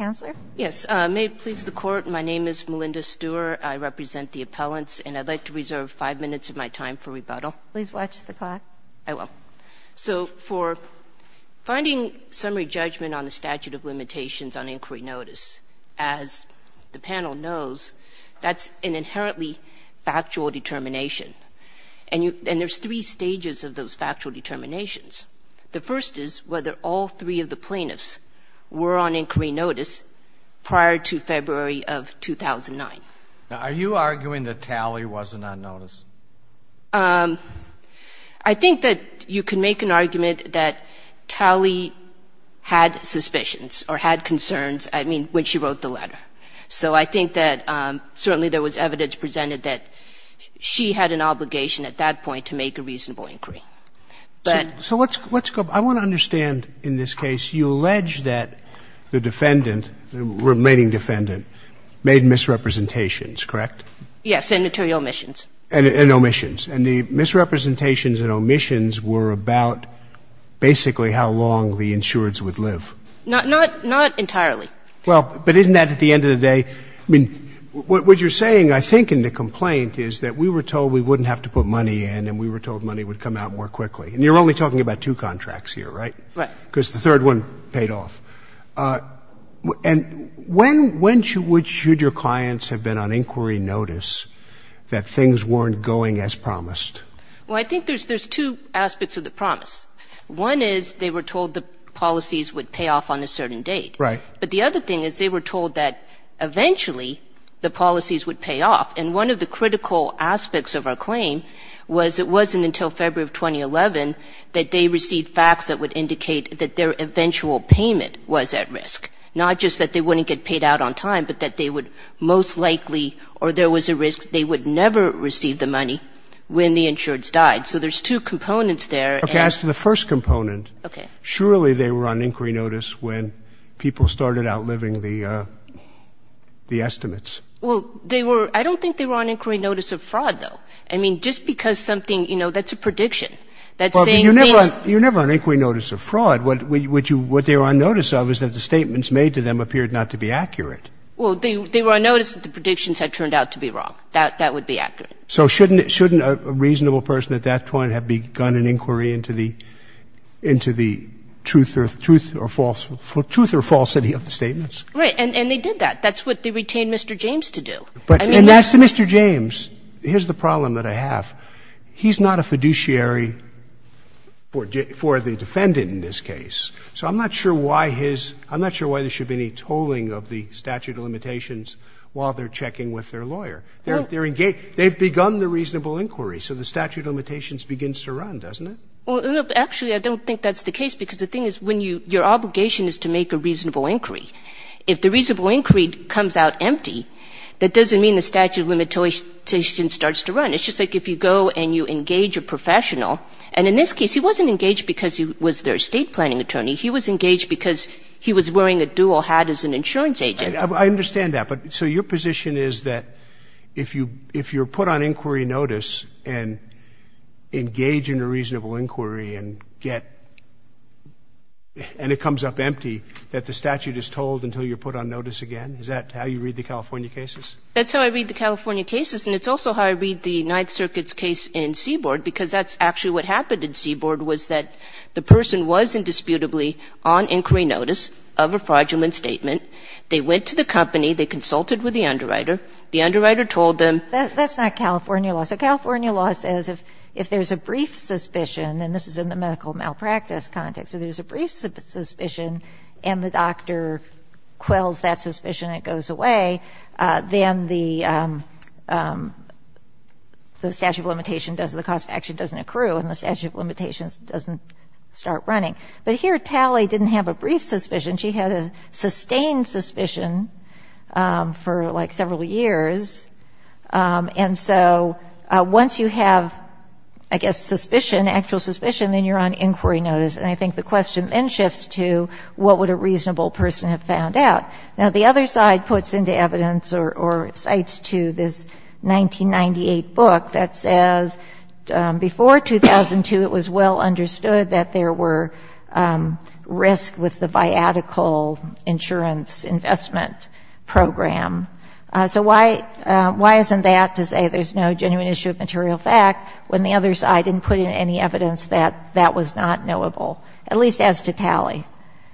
I represent the appellants, and I would like to reserve five minutes of my time for rebuttal. So for finding summary judgment on the statute of limitations on inquiry notice, as the panel knows, that is an inherently factual determination. And there are three stages of those factual judgment on inquiry notice prior to February of 2009. Are you arguing that Talley wasn't on notice? I think that you can make an argument that Talley had suspicions or had concerns, I mean, when she wrote the letter. So I think that certainly there was evidence presented that she had an obligation at that point to make a reasonable inquiry. So let's go back. I want to understand, in this case, you allege that the defendant, the remaining defendant, made misrepresentations, correct? Yes, and material omissions. And omissions. And the misrepresentations and omissions were about basically how long the insureds would live. Not entirely. Well, but isn't that, at the end of the day, I mean, what you're saying, I think, in the complaint, is that we were told we wouldn't have to put money in and we were told money would come out more quickly. And you're only talking about two contracts here, right? Right. Because the third one paid off. And when should your clients have been on inquiry notice that things weren't going as promised? Well, I think there's two aspects of the promise. One is they were told the policies would pay off on a certain date. Right. But the other thing is they were told that eventually the policies would pay off. And one of the critical aspects of our claim was it wasn't until February of 2011 that they received facts that would indicate that their eventual payment was at risk, not just that they wouldn't get paid out on time, but that they would most likely or there was a risk they would never receive the money when the insureds died. So there's two components there. Okay. As to the first component. Okay. Surely they were on inquiry notice when people started outliving the estimates. Well, they were – I don't think they were on inquiry notice of fraud, though. I mean, just because something – you know, that's a prediction. You're never on inquiry notice of fraud. What they were on notice of is that the statements made to them appeared not to be accurate. Well, they were on notice that the predictions had turned out to be wrong. That would be accurate. So shouldn't – shouldn't a reasonable person at that point have begun an inquiry into the – into the truth or false – truth or falsity of the statements? Right. And they did that. That's what they retained Mr. James to do. But – and as to Mr. James, here's the problem that I have. He's not a fiduciary for the defendant in this case. So I'm not sure why his – I'm not sure why there should be any tolling of the statute of limitations while they're checking with their lawyer. They're engaged – they've begun the reasonable inquiry, so the statute of limitations begins to run, doesn't it? Well, actually, I don't think that's the case, because the thing is when you – your obligation is to make a reasonable inquiry. If the reasonable inquiry comes out empty, that doesn't mean the statute of limitations starts to run. It's just like if you go and you engage a professional, and in this case he wasn't engaged because he was their estate planning attorney. He was engaged because he was wearing a dual hat as an insurance agent. I understand that. But so your position is that if you – if you're put on inquiry notice and engage in a reasonable inquiry and get – and it comes up empty, that the statute is tolled until you're put on notice again? Is that how you read the California cases? That's how I read the California cases, and it's also how I read the Ninth Circuit's case in Seaboard, because that's actually what happened in Seaboard, was that the person was indisputably on inquiry notice of a fraudulent statement. They went to the company. They consulted with the underwriter. The underwriter told them. That's not California law. So California law says if there's a brief suspicion, and this is in the medical malpractice context, so there's a brief suspicion and the doctor quells that suspicion and it goes away, then the statute of limitation doesn't – the cause of action doesn't accrue and the statute of limitations doesn't start running. But here Talley didn't have a brief suspicion. She had a sustained suspicion for, like, several years. And so once you have, I guess, suspicion, actual suspicion, then you're on inquiry notice, and I think the question then shifts to what would a reasonable person have found out? Now, the other side puts into evidence or cites to this 1998 book that says before 2002 it was well understood that there were risks with the viatical insurance investment program. So why isn't that to say there's no genuine issue of material fact when the other side didn't put in any evidence that that was not knowable, at least as to Talley?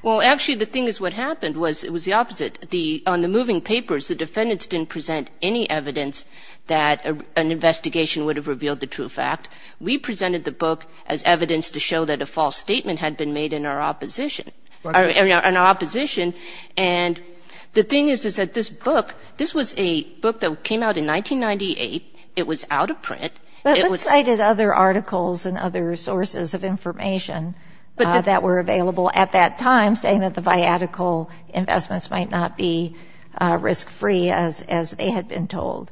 Well, actually, the thing is what happened was it was the opposite. On the moving papers, the defendants didn't present any evidence that an investigation would have revealed the true fact. We presented the book as evidence to show that a false statement had been made in our opposition – in our opposition. And the thing is, is that this book – this was a book that came out in 1998. It was out of print. But it cited other articles and other sources of information that were available at that time saying that the viatical investments might not be risk-free, as they had been told.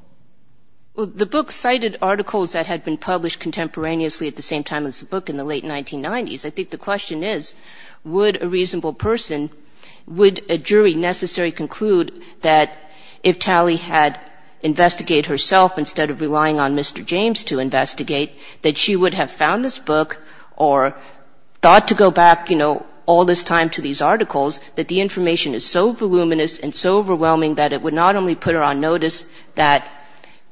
Well, the book cited articles that had been published contemporaneously at the same time as the book in the late 1990s. I think the question is, would a reasonable person – would a jury necessarily conclude that if Talley had investigated herself instead of relying on Mr. James to investigate, that she would have found this book or thought to go back, you know, all this time to these articles, that the information is so voluminous and so overwhelming that it would not only put her on notice, that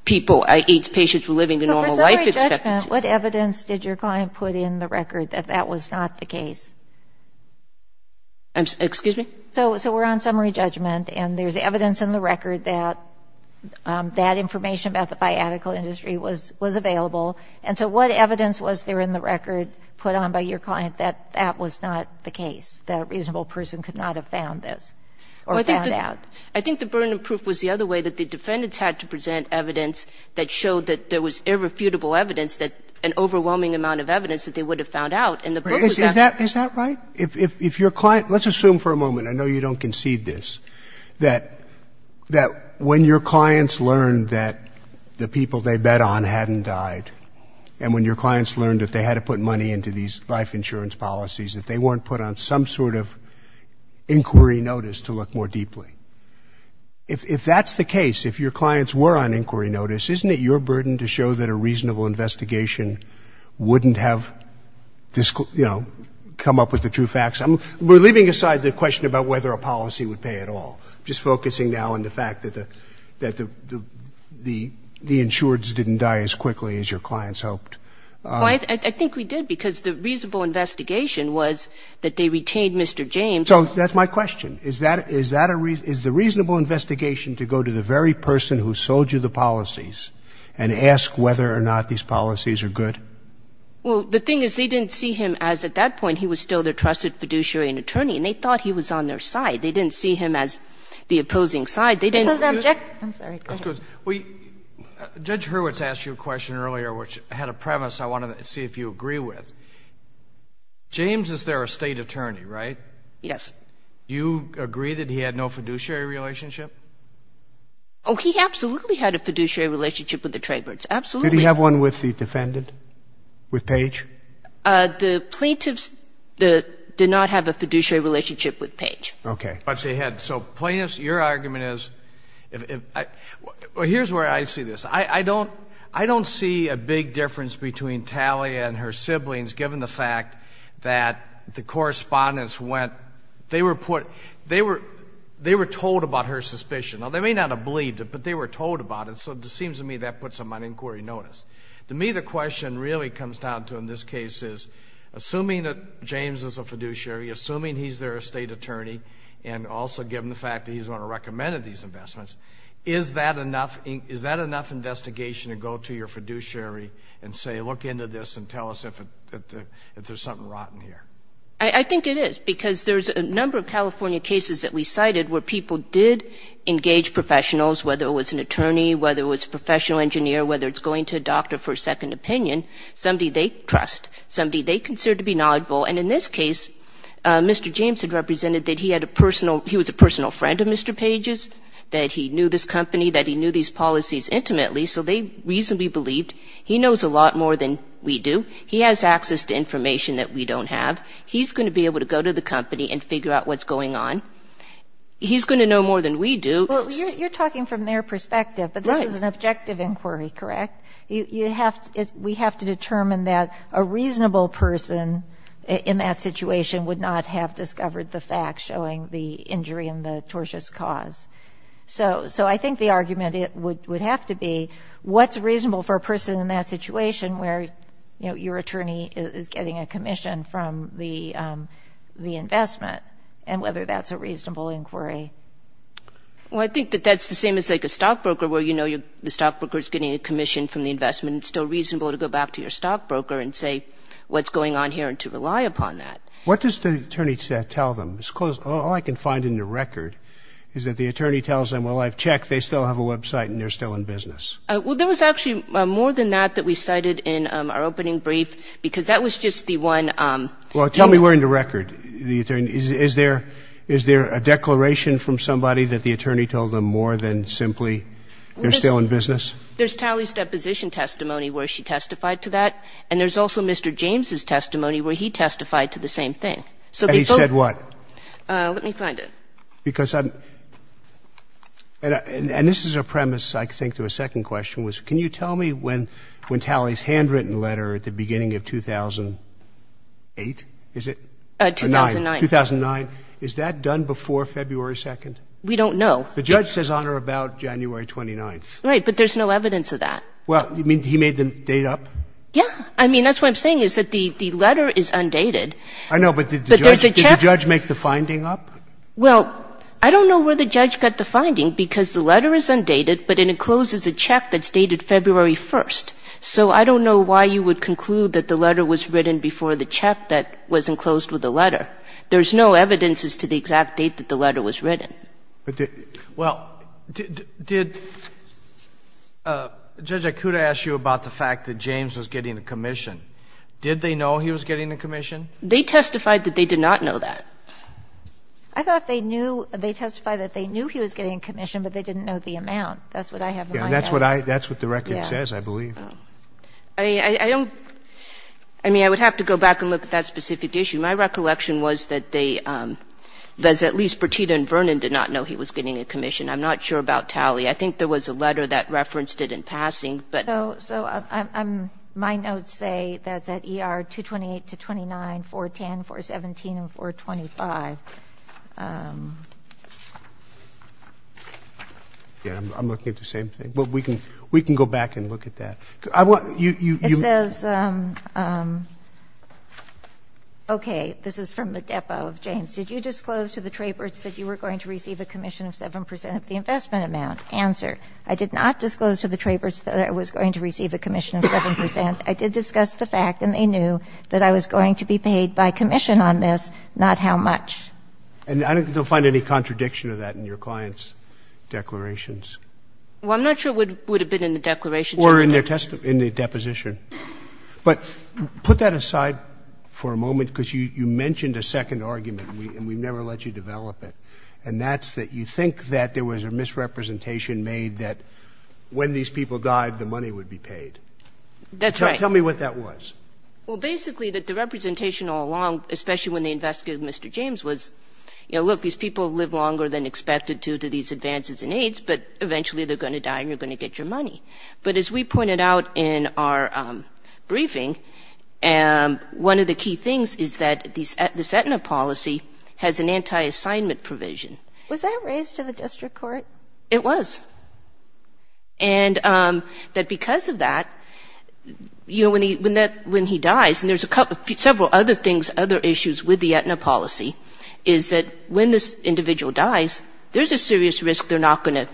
people – patients were living the normal life expectancy. But for summary judgment, what evidence did your client put in the record that that was not the case? Excuse me? So we're on summary judgment, and there's evidence in the record that that information about the viatical industry was available. And so what evidence was there in the record put on by your client that that was not the case, that a reasonable person could not have found this or found out? Well, I think the burden of proof was the other way, that the defendants had to present evidence that showed that there was irrefutable evidence that – an overwhelming amount of evidence that they would have found out, and the book was not. Is that right? If your client – let's assume for a moment, I know you don't concede this, that when your clients learned that the people they bet on hadn't died, and when your clients learned that they weren't put on some sort of inquiry notice to look more deeply, if that's the case, if your clients were on inquiry notice, isn't it your burden to show that a reasonable investigation wouldn't have, you know, come up with the true facts? We're leaving aside the question about whether a policy would pay at all. I'm just focusing now on the fact that the insureds didn't die as quickly as your clients hoped. Well, I think we did, because the reasonable investigation was that they retained Mr. James. So that's my question. Is that a – is the reasonable investigation to go to the very person who sold you the policies and ask whether or not these policies are good? Well, the thing is, they didn't see him as, at that point, he was still their trusted fiduciary and attorney, and they thought he was on their side. They didn't see him as the opposing side. They didn't see him as the opposing side. This is abject. I'm sorry. Go ahead. Judge Hurwitz asked you a question earlier, which had a premise I wanted to see if you agree with. James is their estate attorney, right? Yes. Do you agree that he had no fiduciary relationship? Oh, he absolutely had a fiduciary relationship with the Traybirds. Absolutely. Did he have one with the defendant, with Page? The plaintiffs did not have a fiduciary relationship with Page. Okay. So, plaintiffs, your argument is, well, here's where I see this. I don't see a big difference between Talia and her siblings, given the fact that the correspondents went, they were told about her suspicion. Now, they may not have believed it, but they were told about it, so it seems to me that puts them on inquiry notice. To me, the question really comes down to, in this case, is, assuming that James is a defendant attorney, and also given the fact that he's the one who recommended these investments, is that enough investigation to go to your fiduciary and say, look into this and tell us if there's something rotten here? I think it is, because there's a number of California cases that we cited where people did engage professionals, whether it was an attorney, whether it was a professional engineer, whether it's going to a doctor for a second opinion, somebody they trust, somebody they consider to be knowledgeable. And in this case, Mr. James had represented that he had a personal, he was a personal friend of Mr. Page's, that he knew this company, that he knew these policies intimately, so they reasonably believed. He knows a lot more than we do. He has access to information that we don't have. He's going to be able to go to the company and figure out what's going on. He's going to know more than we do. You're talking from their perspective, but this is an objective inquiry, correct? We have to determine that a reasonable person in that situation would not have discovered the facts showing the injury and the tortious cause. So I think the argument would have to be, what's reasonable for a person in that situation where, you know, your attorney is getting a commission from the investment and whether that's a reasonable inquiry? Well, I think that that's the same as, like, a stockbroker where, you know, the stockbroker is getting a commission from the investment. It's still reasonable to go back to your stockbroker and say what's going on here and to rely upon that. What does the attorney tell them? All I can find in the record is that the attorney tells them, well, I've checked. They still have a website and they're still in business. Well, there was actually more than that that we cited in our opening brief because that was just the one. Well, tell me where in the record the attorney, is there a declaration from somebody that the attorney told them more than simply they're still in business? There's Talley's deposition testimony where she testified to that. And there's also Mr. James' testimony where he testified to the same thing. And he said what? Let me find it. Because I'm – and this is a premise, I think, to a second question, which can you tell me when Talley's handwritten letter at the beginning of 2008, is it? 2009. 2009. Is that done before February 2nd? We don't know. The judge says on or about January 29th. Right. But there's no evidence of that. Well, you mean he made the date up? Yeah. I mean, that's what I'm saying is that the letter is undated. I know, but did the judge make the finding up? Well, I don't know where the judge got the finding because the letter is undated, but it encloses a check that's dated February 1st. So I don't know why you would conclude that the letter was written before the check that was enclosed with the letter. There's no evidence as to the exact date that the letter was written. Well, did Judge Ikuda ask you about the fact that James was getting a commission? Did they know he was getting a commission? They testified that they did not know that. I thought they knew – they testified that they knew he was getting a commission, but they didn't know the amount. That's what I have in my head. That's what I – that's what the record says, I believe. I don't – I mean, I would have to go back and look at that specific issue. My recollection was that they – that at least Bertita and Vernon did not know he was getting a commission. I'm not sure about Talley. I think there was a letter that referenced it in passing. So my notes say that's at ER 228 to 29, 410, 417, and 425. I'm looking at the same thing. We can go back and look at that. It says, okay, this is from the depo of James. Did you disclose to the Traberts that you were going to receive a commission of 7 percent of the investment amount? Answer. I did not disclose to the Traberts that I was going to receive a commission of 7 percent. I did discuss the fact, and they knew that I was going to be paid by commission on this, not how much. And I don't think they'll find any contradiction of that in your client's declarations. Well, I'm not sure it would have been in the declarations. Or in their deposition. But put that aside for a moment, because you mentioned a second argument, and we've never let you develop it. And that's that you think that there was a misrepresentation made that when these people died, the money would be paid. That's right. Tell me what that was. Well, basically that the representation all along, especially when they investigated Mr. James, was, you know, look, these people live longer than expected due to these advances in AIDS, but eventually they're going to die and you're going to get your And as we pointed out in our briefing, one of the key things is that this Aetna policy has an anti-assignment provision. Was that raised to the district court? It was. And that because of that, you know, when he dies, and there's a couple of several other things, other issues with the Aetna policy, is that when this individual dies, there's a serious risk they're not going to,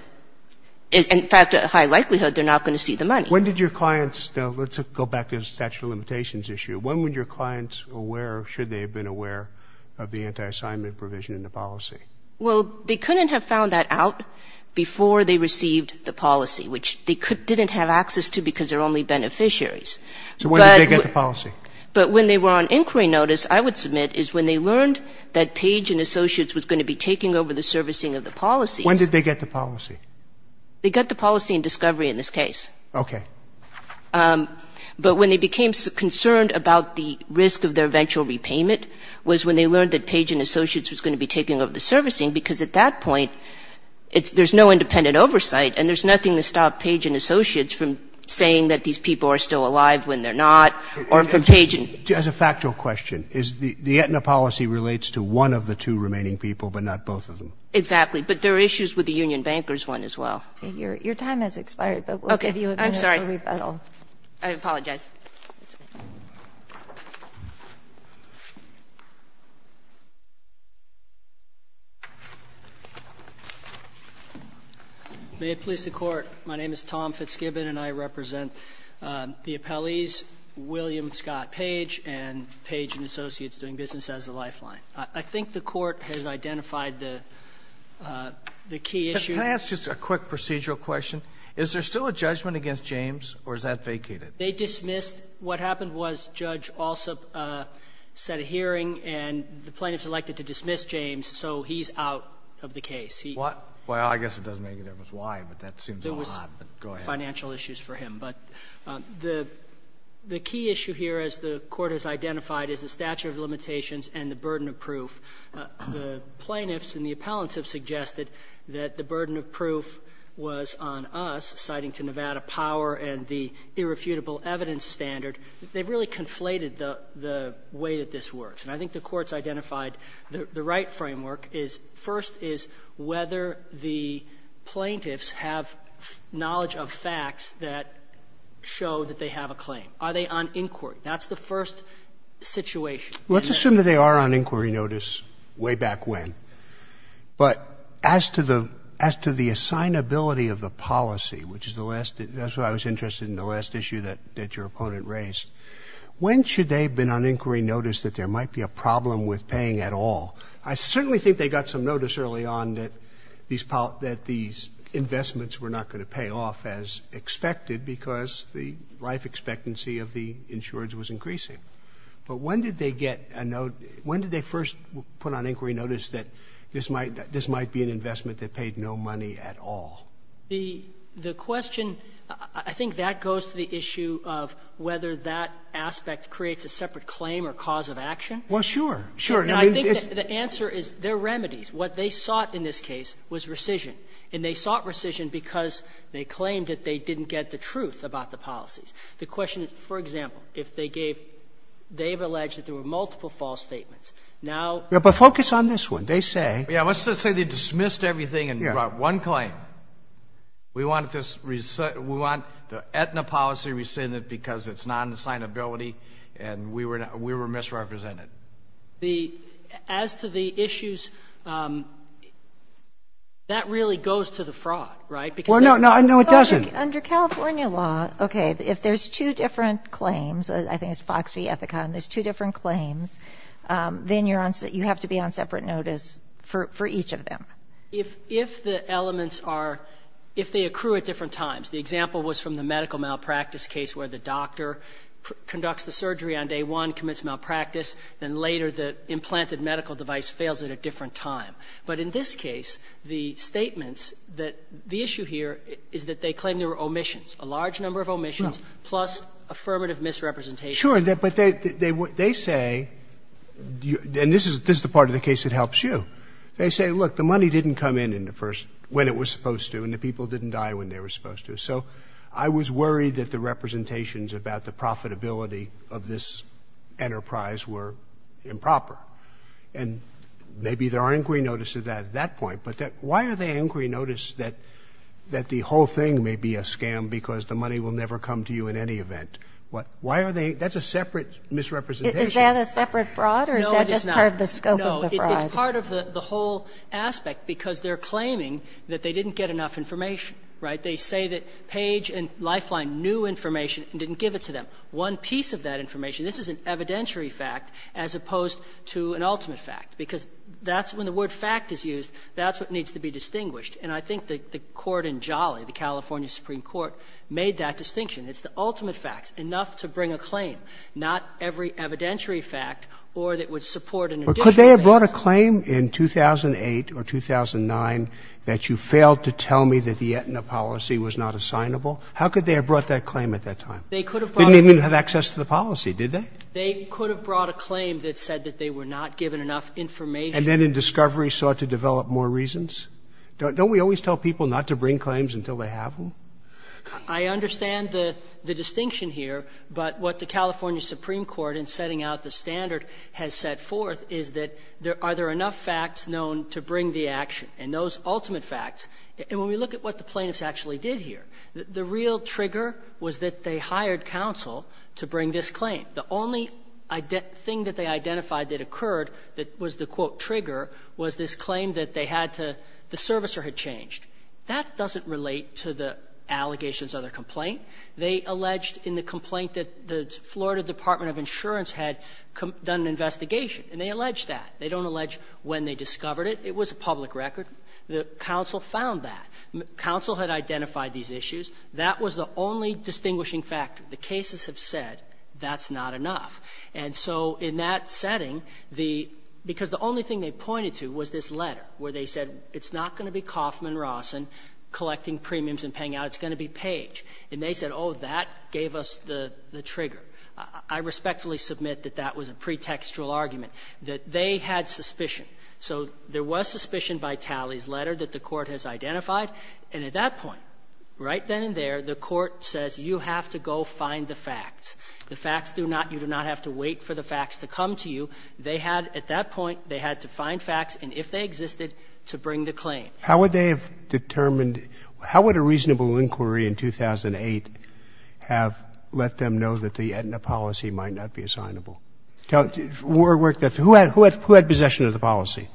in fact, a high likelihood they're not going to see the money. When did your clients, now let's go back to the statute of limitations issue, when were your clients aware or should they have been aware of the anti-assignment provision in the policy? Well, they couldn't have found that out before they received the policy, which they didn't have access to because they're only beneficiaries. So when did they get the policy? But when they were on inquiry notice, I would submit, is when they learned that Page and Associates was going to be taking over the servicing of the policy. When did they get the policy? They got the policy in discovery in this case. Okay. But when they became concerned about the risk of their eventual repayment was when they learned that Page and Associates was going to be taking over the servicing because at that point, there's no independent oversight and there's nothing to stop Page and Associates from saying that these people are still alive when they're not or from Page and — As a factual question, is the Aetna policy relates to one of the two remaining people but not both of them? Exactly. But there are issues with the union banker's one as well. Your time has expired, but we'll give you a minute for rebuttal. Okay. I'm sorry. I apologize. May it please the Court. My name is Tom Fitzgibbon and I represent the appellees William Scott Page and Page and Associates doing business as a lifeline. I think the Court has identified the key issue. Can I ask just a quick procedural question? Is there still a judgment against James or is that vacated? They dismissed. What happened was Judge Alsop set a hearing and the plaintiffs elected to dismiss James, so he's out of the case. Well, I guess it doesn't make any difference why, but that seems a lot. There was financial issues for him. The plaintiffs and the appellants have suggested that the burden of proof was on us, citing to Nevada Power and the irrefutable evidence standard. They've really conflated the way that this works. And I think the Court's identified the right framework is, first, is whether the plaintiffs have knowledge of facts that show that they have a claim. Are they on inquiry? That's the first situation. Let's assume that they are on inquiry notice way back when. But as to the assignability of the policy, which is the last, that's why I was interested in the last issue that your opponent raised, when should they have been on inquiry notice that there might be a problem with paying at all? I certainly think they got some notice early on that these investments were not going to pay off as expected because the life expectancy of the insurers was increasing. But when did they get a note? When did they first put on inquiry notice that this might be an investment that paid no money at all? The question, I think that goes to the issue of whether that aspect creates a separate claim or cause of action. Well, sure. Sure. And I think the answer is there are remedies. What they sought in this case was rescission, and they sought rescission because they claimed that they didn't get the truth about the policies. The question is, for example, if they gave, they have alleged that there were multiple false statements. Now we have a focus on this one. They say. Yeah. Let's just say they dismissed everything and brought one claim. Yeah. We want this, we want the Aetna policy rescinded because it's not an assignability and we were misrepresented. The, as to the issues, that really goes to the fraud, right? Well, no. No, it doesn't. Under California law, okay, if there's two different claims, I think it's Fox v. Ethicon, there's two different claims, then you're on, you have to be on separate notice for each of them. If the elements are, if they accrue at different times, the example was from the medical malpractice case where the doctor conducts the surgery on day one, commits malpractice, then later the implanted medical device fails at a different time. But in this case, the statements that, the issue here is that they claim there were omissions, a large number of omissions plus affirmative misrepresentation. Sure. But they say, and this is the part of the case that helps you. They say, look, the money didn't come in when it was supposed to and the people didn't die when they were supposed to. So I was worried that the representations about the profitability of this enterprise were improper. And maybe there are inquiry notices at that point. But why are they inquiry notice that the whole thing may be a scam because the money will never come to you in any event? Why are they? That's a separate misrepresentation. Is that a separate fraud or is that just part of the scope of the fraud? No, it's not. No, it's part of the whole aspect because they're claiming that they didn't get enough information, right? They say that Page and Lifeline knew information and didn't give it to them. One piece of that information. This is an evidentiary fact as opposed to an ultimate fact, because that's when the word fact is used, that's what needs to be distinguished. And I think the court in Jolly, the California Supreme Court, made that distinction. It's the ultimate facts, enough to bring a claim, not every evidentiary fact or that would support an additional basis. Could they have brought a claim in 2008 or 2009 that you failed to tell me that the Aetna policy was not assignable? How could they have brought that claim at that time? They could have brought it. They didn't even have access to the policy, did they? They could have brought a claim that said that they were not given enough information. And then in discovery sought to develop more reasons? Don't we always tell people not to bring claims until they have them? I understand the distinction here. But what the California Supreme Court in setting out the standard has set forth is that are there enough facts known to bring the action and those ultimate facts. And when we look at what the plaintiffs actually did here, the real trigger was that they hired counsel to bring this claim. The only thing that they identified that occurred that was the, quote, trigger was this claim that they had to the servicer had changed. That doesn't relate to the allegations of the complaint. They alleged in the complaint that the Florida Department of Insurance had done an investigation, and they allege that. They don't allege when they discovered it. It was a public record. The counsel found that. Counsel had identified these issues. That was the only distinguishing factor. The cases have said that's not enough. And so in that setting, the – because the only thing they pointed to was this letter where they said it's not going to be Kaufman-Rossen collecting premiums and paying out, it's going to be Page. And they said, oh, that gave us the trigger. I respectfully submit that that was a pretextual argument, that they had suspicion. So there was suspicion by Talley's letter that the Court has identified. And at that point, right then and there, the Court says you have to go find the facts. The facts do not – you do not have to wait for the facts to come to you. They had – at that point, they had to find facts, and if they existed, to bring the claim. Roberts. How would they have determined – how would a reasonable inquiry in 2008 have let them know that the Aetna policy might not be assignable? Who had possession of the policy?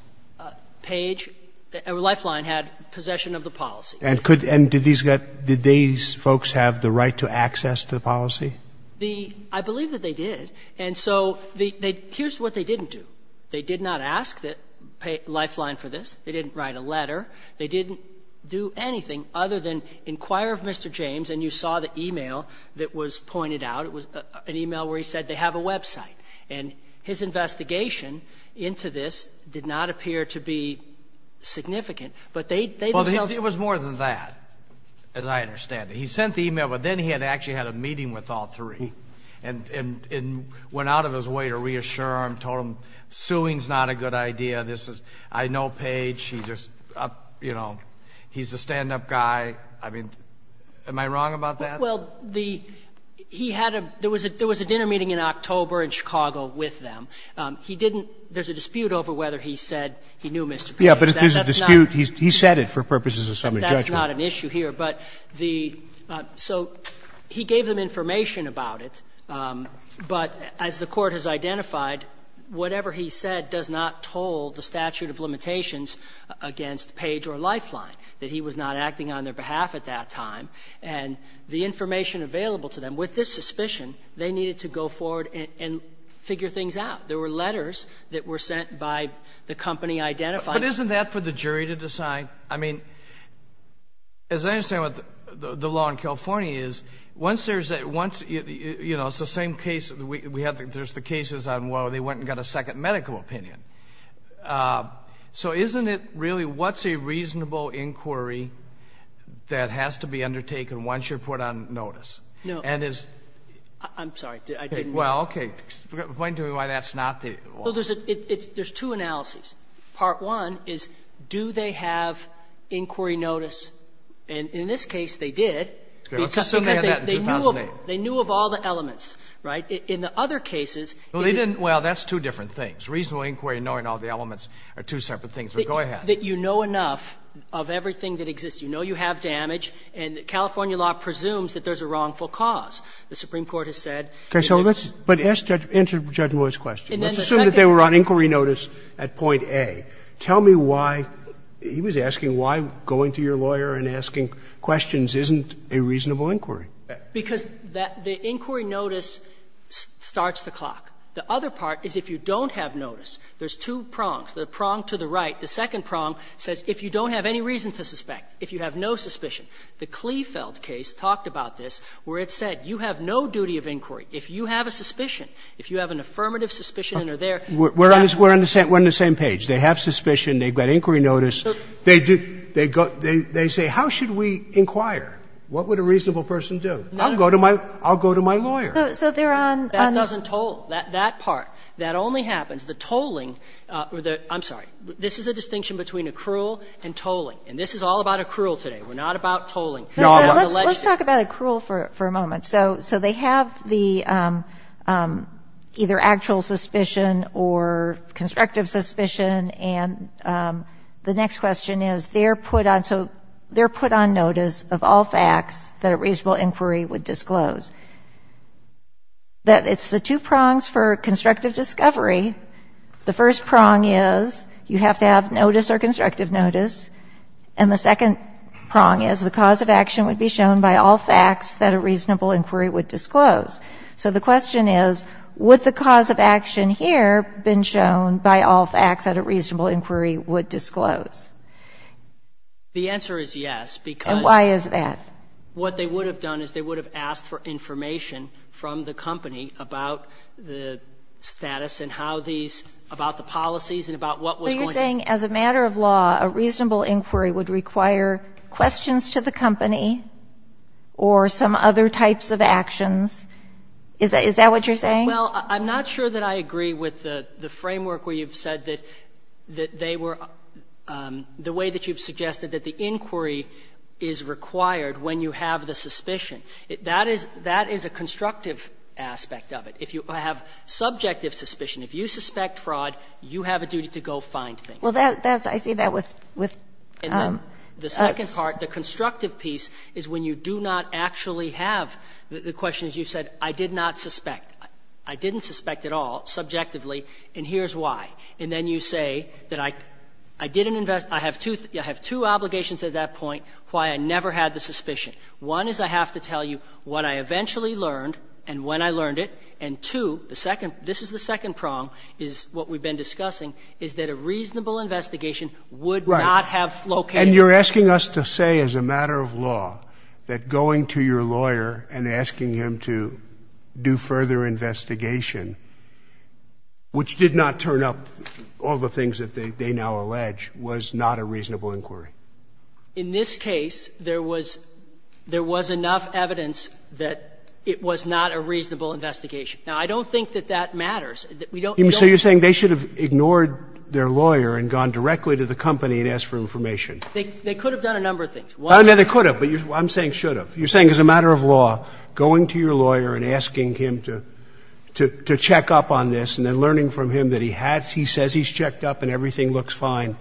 Page – Lifeline had possession of the policy. And could – and did these folks have the right to access to the policy? The – I believe that they did. And so here's what they didn't do. They did not ask Lifeline for this. They didn't write a letter. They didn't do anything other than inquire of Mr. James, and you saw the e-mail that was pointed out. It was an e-mail where he said they have a website. And his investigation into this did not appear to be significant. But they themselves – Well, it was more than that, as I understand it. He sent the e-mail, but then he had actually had a meeting with all three, and went out of his way to reassure them, told them suing is not a good idea, this is – I know Page, he's just, you know, he's a stand-up guy. I mean, am I wrong about that? Well, the – he had a – there was a dinner meeting in October in Chicago with them. He didn't – there's a dispute over whether he said he knew Mr. Page. That's not an issue here. But if there's a dispute, he said it for purposes of summary judgment. But the – so he gave them information about it. But as the Court has identified, whatever he said does not toll the statute of limitations against Page or Lifeline, that he was not acting on their behalf at that time. And the information available to them, with this suspicion, they needed to go forward and figure things out. There were letters that were sent by the company identifying them. But isn't that for the jury to decide? I mean, as I understand what the law in California is, once there's a – once, you know, it's the same case. We have – there's the cases on where they went and got a second medical opinion. So isn't it really what's a reasonable inquiry that has to be undertaken once you're put on notice? And is – No. I'm sorry. I didn't mean to. Well, okay. Point to me why that's not the law. Well, there's a – there's two analyses. Part one is do they have inquiry notice? And in this case, they did, because they knew of all the elements, right? In the other cases – Well, they didn't – well, that's two different things. Reasonable inquiry and knowing all the elements are two separate things. But go ahead. That you know enough of everything that exists. You know you have damage. And California law presumes that there's a wrongful cause. The Supreme Court has said in the – Okay. So let's – but answer Judge Moore's question. Let's assume that they were on inquiry notice at point A. Tell me why – he was asking why going to your lawyer and asking questions isn't a reasonable inquiry. Because that – the inquiry notice starts the clock. The other part is if you don't have notice, there's two prongs. The prong to the right. The second prong says if you don't have any reason to suspect, if you have no suspicion. The Klefeld case talked about this, where it said you have no duty of inquiry. If you have a suspicion, if you have an affirmative suspicion and are there – We're on the same – we're on the same page. They have suspicion. They've got inquiry notice. They do – they say how should we inquire? I'll go to my – I'll go to my lawyer. So they're on – That doesn't toll. That part. That only happens. The tolling – I'm sorry. This is a distinction between accrual and tolling. And this is all about accrual today. We're not about tolling. Let's talk about accrual for a moment. So they have the – either actual suspicion or constructive suspicion. And the next question is they're put on – so they're put on notice of all facts that a reasonable inquiry would disclose. It's the two prongs for constructive discovery. The first prong is you have to have notice or constructive notice. And the second prong is the cause of action would be shown by all facts that a reasonable inquiry would disclose. So the question is would the cause of action here been shown by all facts that a reasonable inquiry would disclose? The answer is yes, because – And why is that? What they would have done is they would have asked for information from the company about the status and how these – about the policies and about what was going to – So you're saying as a matter of law, a reasonable inquiry would require questions to the company or some other types of actions? Is that what you're saying? Well, I'm not sure that I agree with the framework where you've said that they were – the way that you've suggested that the inquiry is required when you have the suspicion. That is – that is a constructive aspect of it. If you have subjective suspicion, if you suspect fraud, you have a duty to go find things. Well, that's – I see that with – And then the second part, the constructive piece, is when you do not actually have the questions you said, I did not suspect. I didn't suspect at all subjectively, and here's why. And then you say that I didn't invest – I have two – I have two obligations at that point why I never had the suspicion. One is I have to tell you what I eventually learned and when I learned it. And two, the second – this is the second prong, is what we've been discussing, is that a reasonable investigation would not have located – Right. And you're asking us to say as a matter of law that going to your lawyer and asking him to do further investigation, which did not turn up all the things that they now allege, was not a reasonable inquiry. In this case, there was – there was enough evidence that it was not a reasonable investigation. Now, I don't think that that matters. We don't – So you're saying they should have ignored their lawyer and gone directly to the company and asked for information. They could have done a number of things. Well, I mean, they could have, but I'm saying should have. You're saying as a matter of law, going to your lawyer and asking him to check up on this and then learning from him that he had – he says he's checked up and everything looks fine,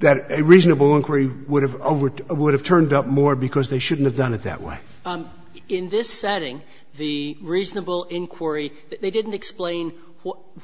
that a reasonable inquiry would have turned up more because they shouldn't have done it that way. In this setting, the reasonable inquiry, they didn't explain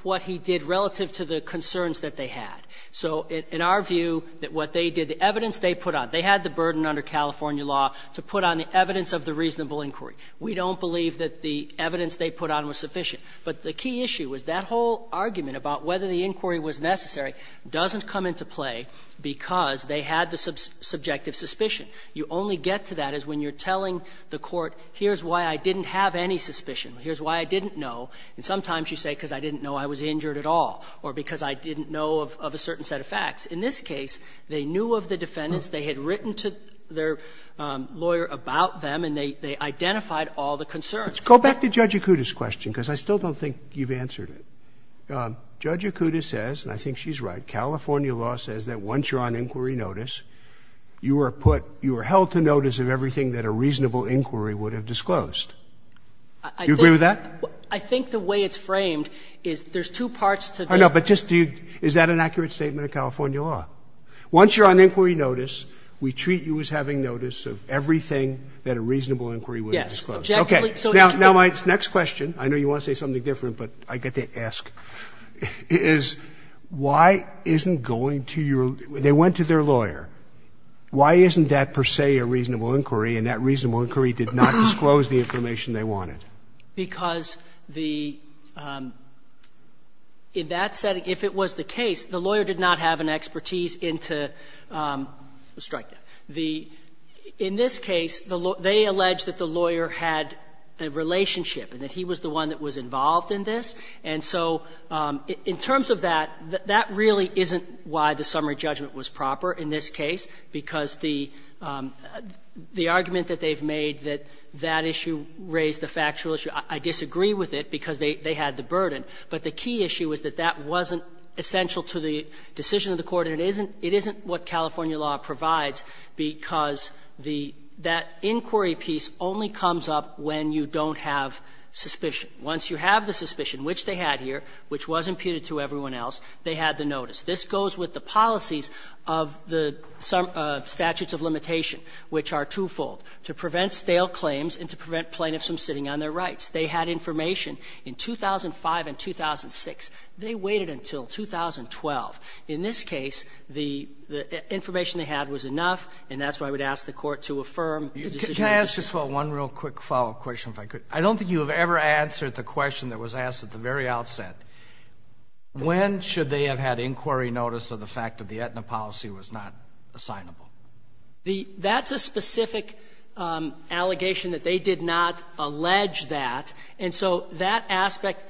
what he did relative to the concerns that they had. So in our view, what they did, the evidence they put out, they had the burden under California law to put on the evidence of the reasonable inquiry. We don't believe that the evidence they put on was sufficient. But the key issue was that whole argument about whether the inquiry was necessary doesn't come into play because they had the subjective suspicion. You only get to that is when you're telling the court, here's why I didn't have any suspicion, here's why I didn't know, and sometimes you say, because I didn't know I was injured at all or because I didn't know of a certain set of facts. In this case, they knew of the defendants, they had written to their lawyer about them, and they identified all the concerns. Roberts. Go back to Judge Acuda's question, because I still don't think you've answered it. Judge Acuda says, and I think she's right, California law says that once you're on inquiry notice, you are put – you are held to notice of everything that a reasonable inquiry would have disclosed. Do you agree with that? I think the way it's framed is there's two parts to this. I know, but just do you – is that an accurate statement of California law? Once you're on inquiry notice, we treat you as having notice of everything that a reasonable inquiry would have disclosed. Yes, exactly. Okay. Now, my next question, I know you want to say something different, but I get to ask, is why isn't going to your – they went to their lawyer. Why isn't that per se a reasonable inquiry, and that reasonable inquiry did not disclose the information they wanted? Because the – in that setting, if it was the case, the lawyer did not have an expertise into the strike debt. The – in this case, they allege that the lawyer had a relationship, and that he was the one that was involved in this. And so in terms of that, that really isn't why the summary judgment was proper in this case, because the argument that they've made that that issue raised the factual issue, I disagree with it, because they had the burden. But the key issue is that that wasn't essential to the decision of the Court, and it isn't what California law provides, because the – that inquiry piece only comes up when you don't have suspicion. Once you have the suspicion, which they had here, which was imputed to everyone else, they had the notice. This goes with the policies of the statutes of limitation, which are twofold, to prevent stale claims and to prevent plaintiffs from sitting on their rights. They had information in 2005 and 2006. They waited until 2012. In this case, the information they had was enough, and that's why I would ask the Court to affirm the decision of the statute. Can I ask just one real quick follow-up question, if I could? I don't think you have ever answered the question that was asked at the very outset. When should they have had inquiry notice of the fact that the Aetna policy was not assignable? That's a specific allegation that they did not allege that. And so that aspect,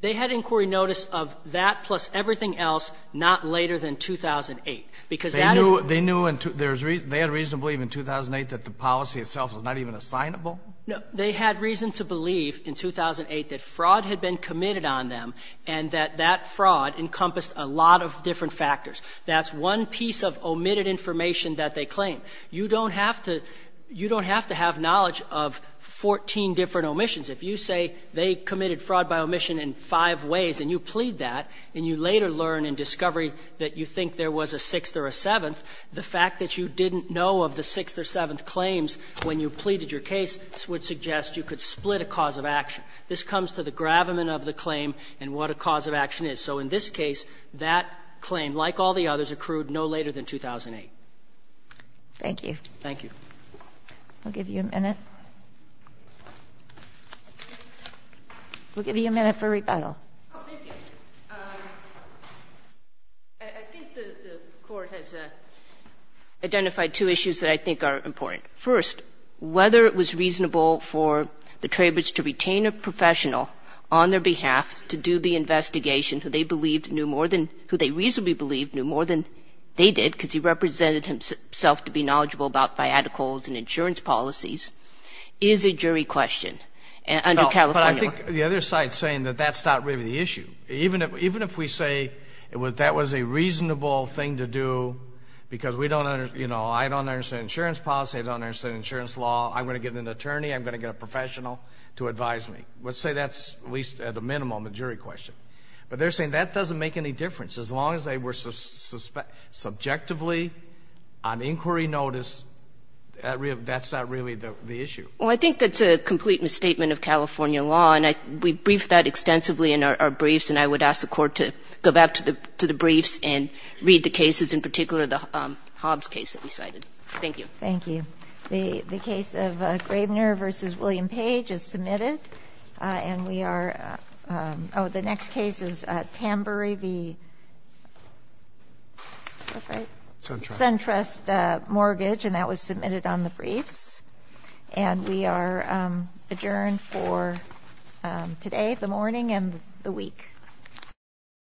they had inquiry notice of that plus everything else not later than 2008, because that is the reason. They knew there was – they had reason to believe in 2008 that the policy itself was not even assignable? No. They had reason to believe in 2008 that fraud had been committed on them and that that fraud encompassed a lot of different factors. That's one piece of omitted information that they claim. You don't have to – you don't have to have knowledge of 14 different omissions. If you say they committed fraud by omission in five ways and you plead that, and you later learn in discovery that you think there was a sixth or a seventh, the fact that you didn't know of the sixth or seventh claims when you pleaded your case would suggest you could split a cause of action. This comes to the gravamen of the claim and what a cause of action is. So in this case, that claim, like all the others, accrued no later than 2008. Thank you. Thank you. We'll give you a minute. We'll give you a minute for rebuttal. I think the Court has identified two issues that I think are important. First, whether it was reasonable for the Traybridge to retain a professional on their behalf to do the investigation who they believed knew more than – who they reasonably believed knew more than they did because he represented himself to be knowledgeable about fiat accords and insurance policies is a jury question under California law. But I think the other side is saying that that's not really the issue. Even if we say that was a reasonable thing to do because we don't – I don't understand insurance policy. I don't understand insurance law. I'm going to get an attorney. I'm going to get a professional to advise me. Let's say that's at least at a minimum a jury question. But they're saying that doesn't make any difference. As long as they were subjectively on inquiry notice, that's not really the issue. Well, I think that's a complete misstatement of California law, and we briefed that extensively in our briefs, and I would ask the Court to go back to the briefs and read the cases, in particular the Hobbs case that we cited. Thank you. The case of Gravener v. William Page is submitted. And we are – oh, the next case is Tambury v. – is that right? Centrist. Centrist mortgage, and that was submitted on the briefs. And we are adjourned for today, the morning, and the week.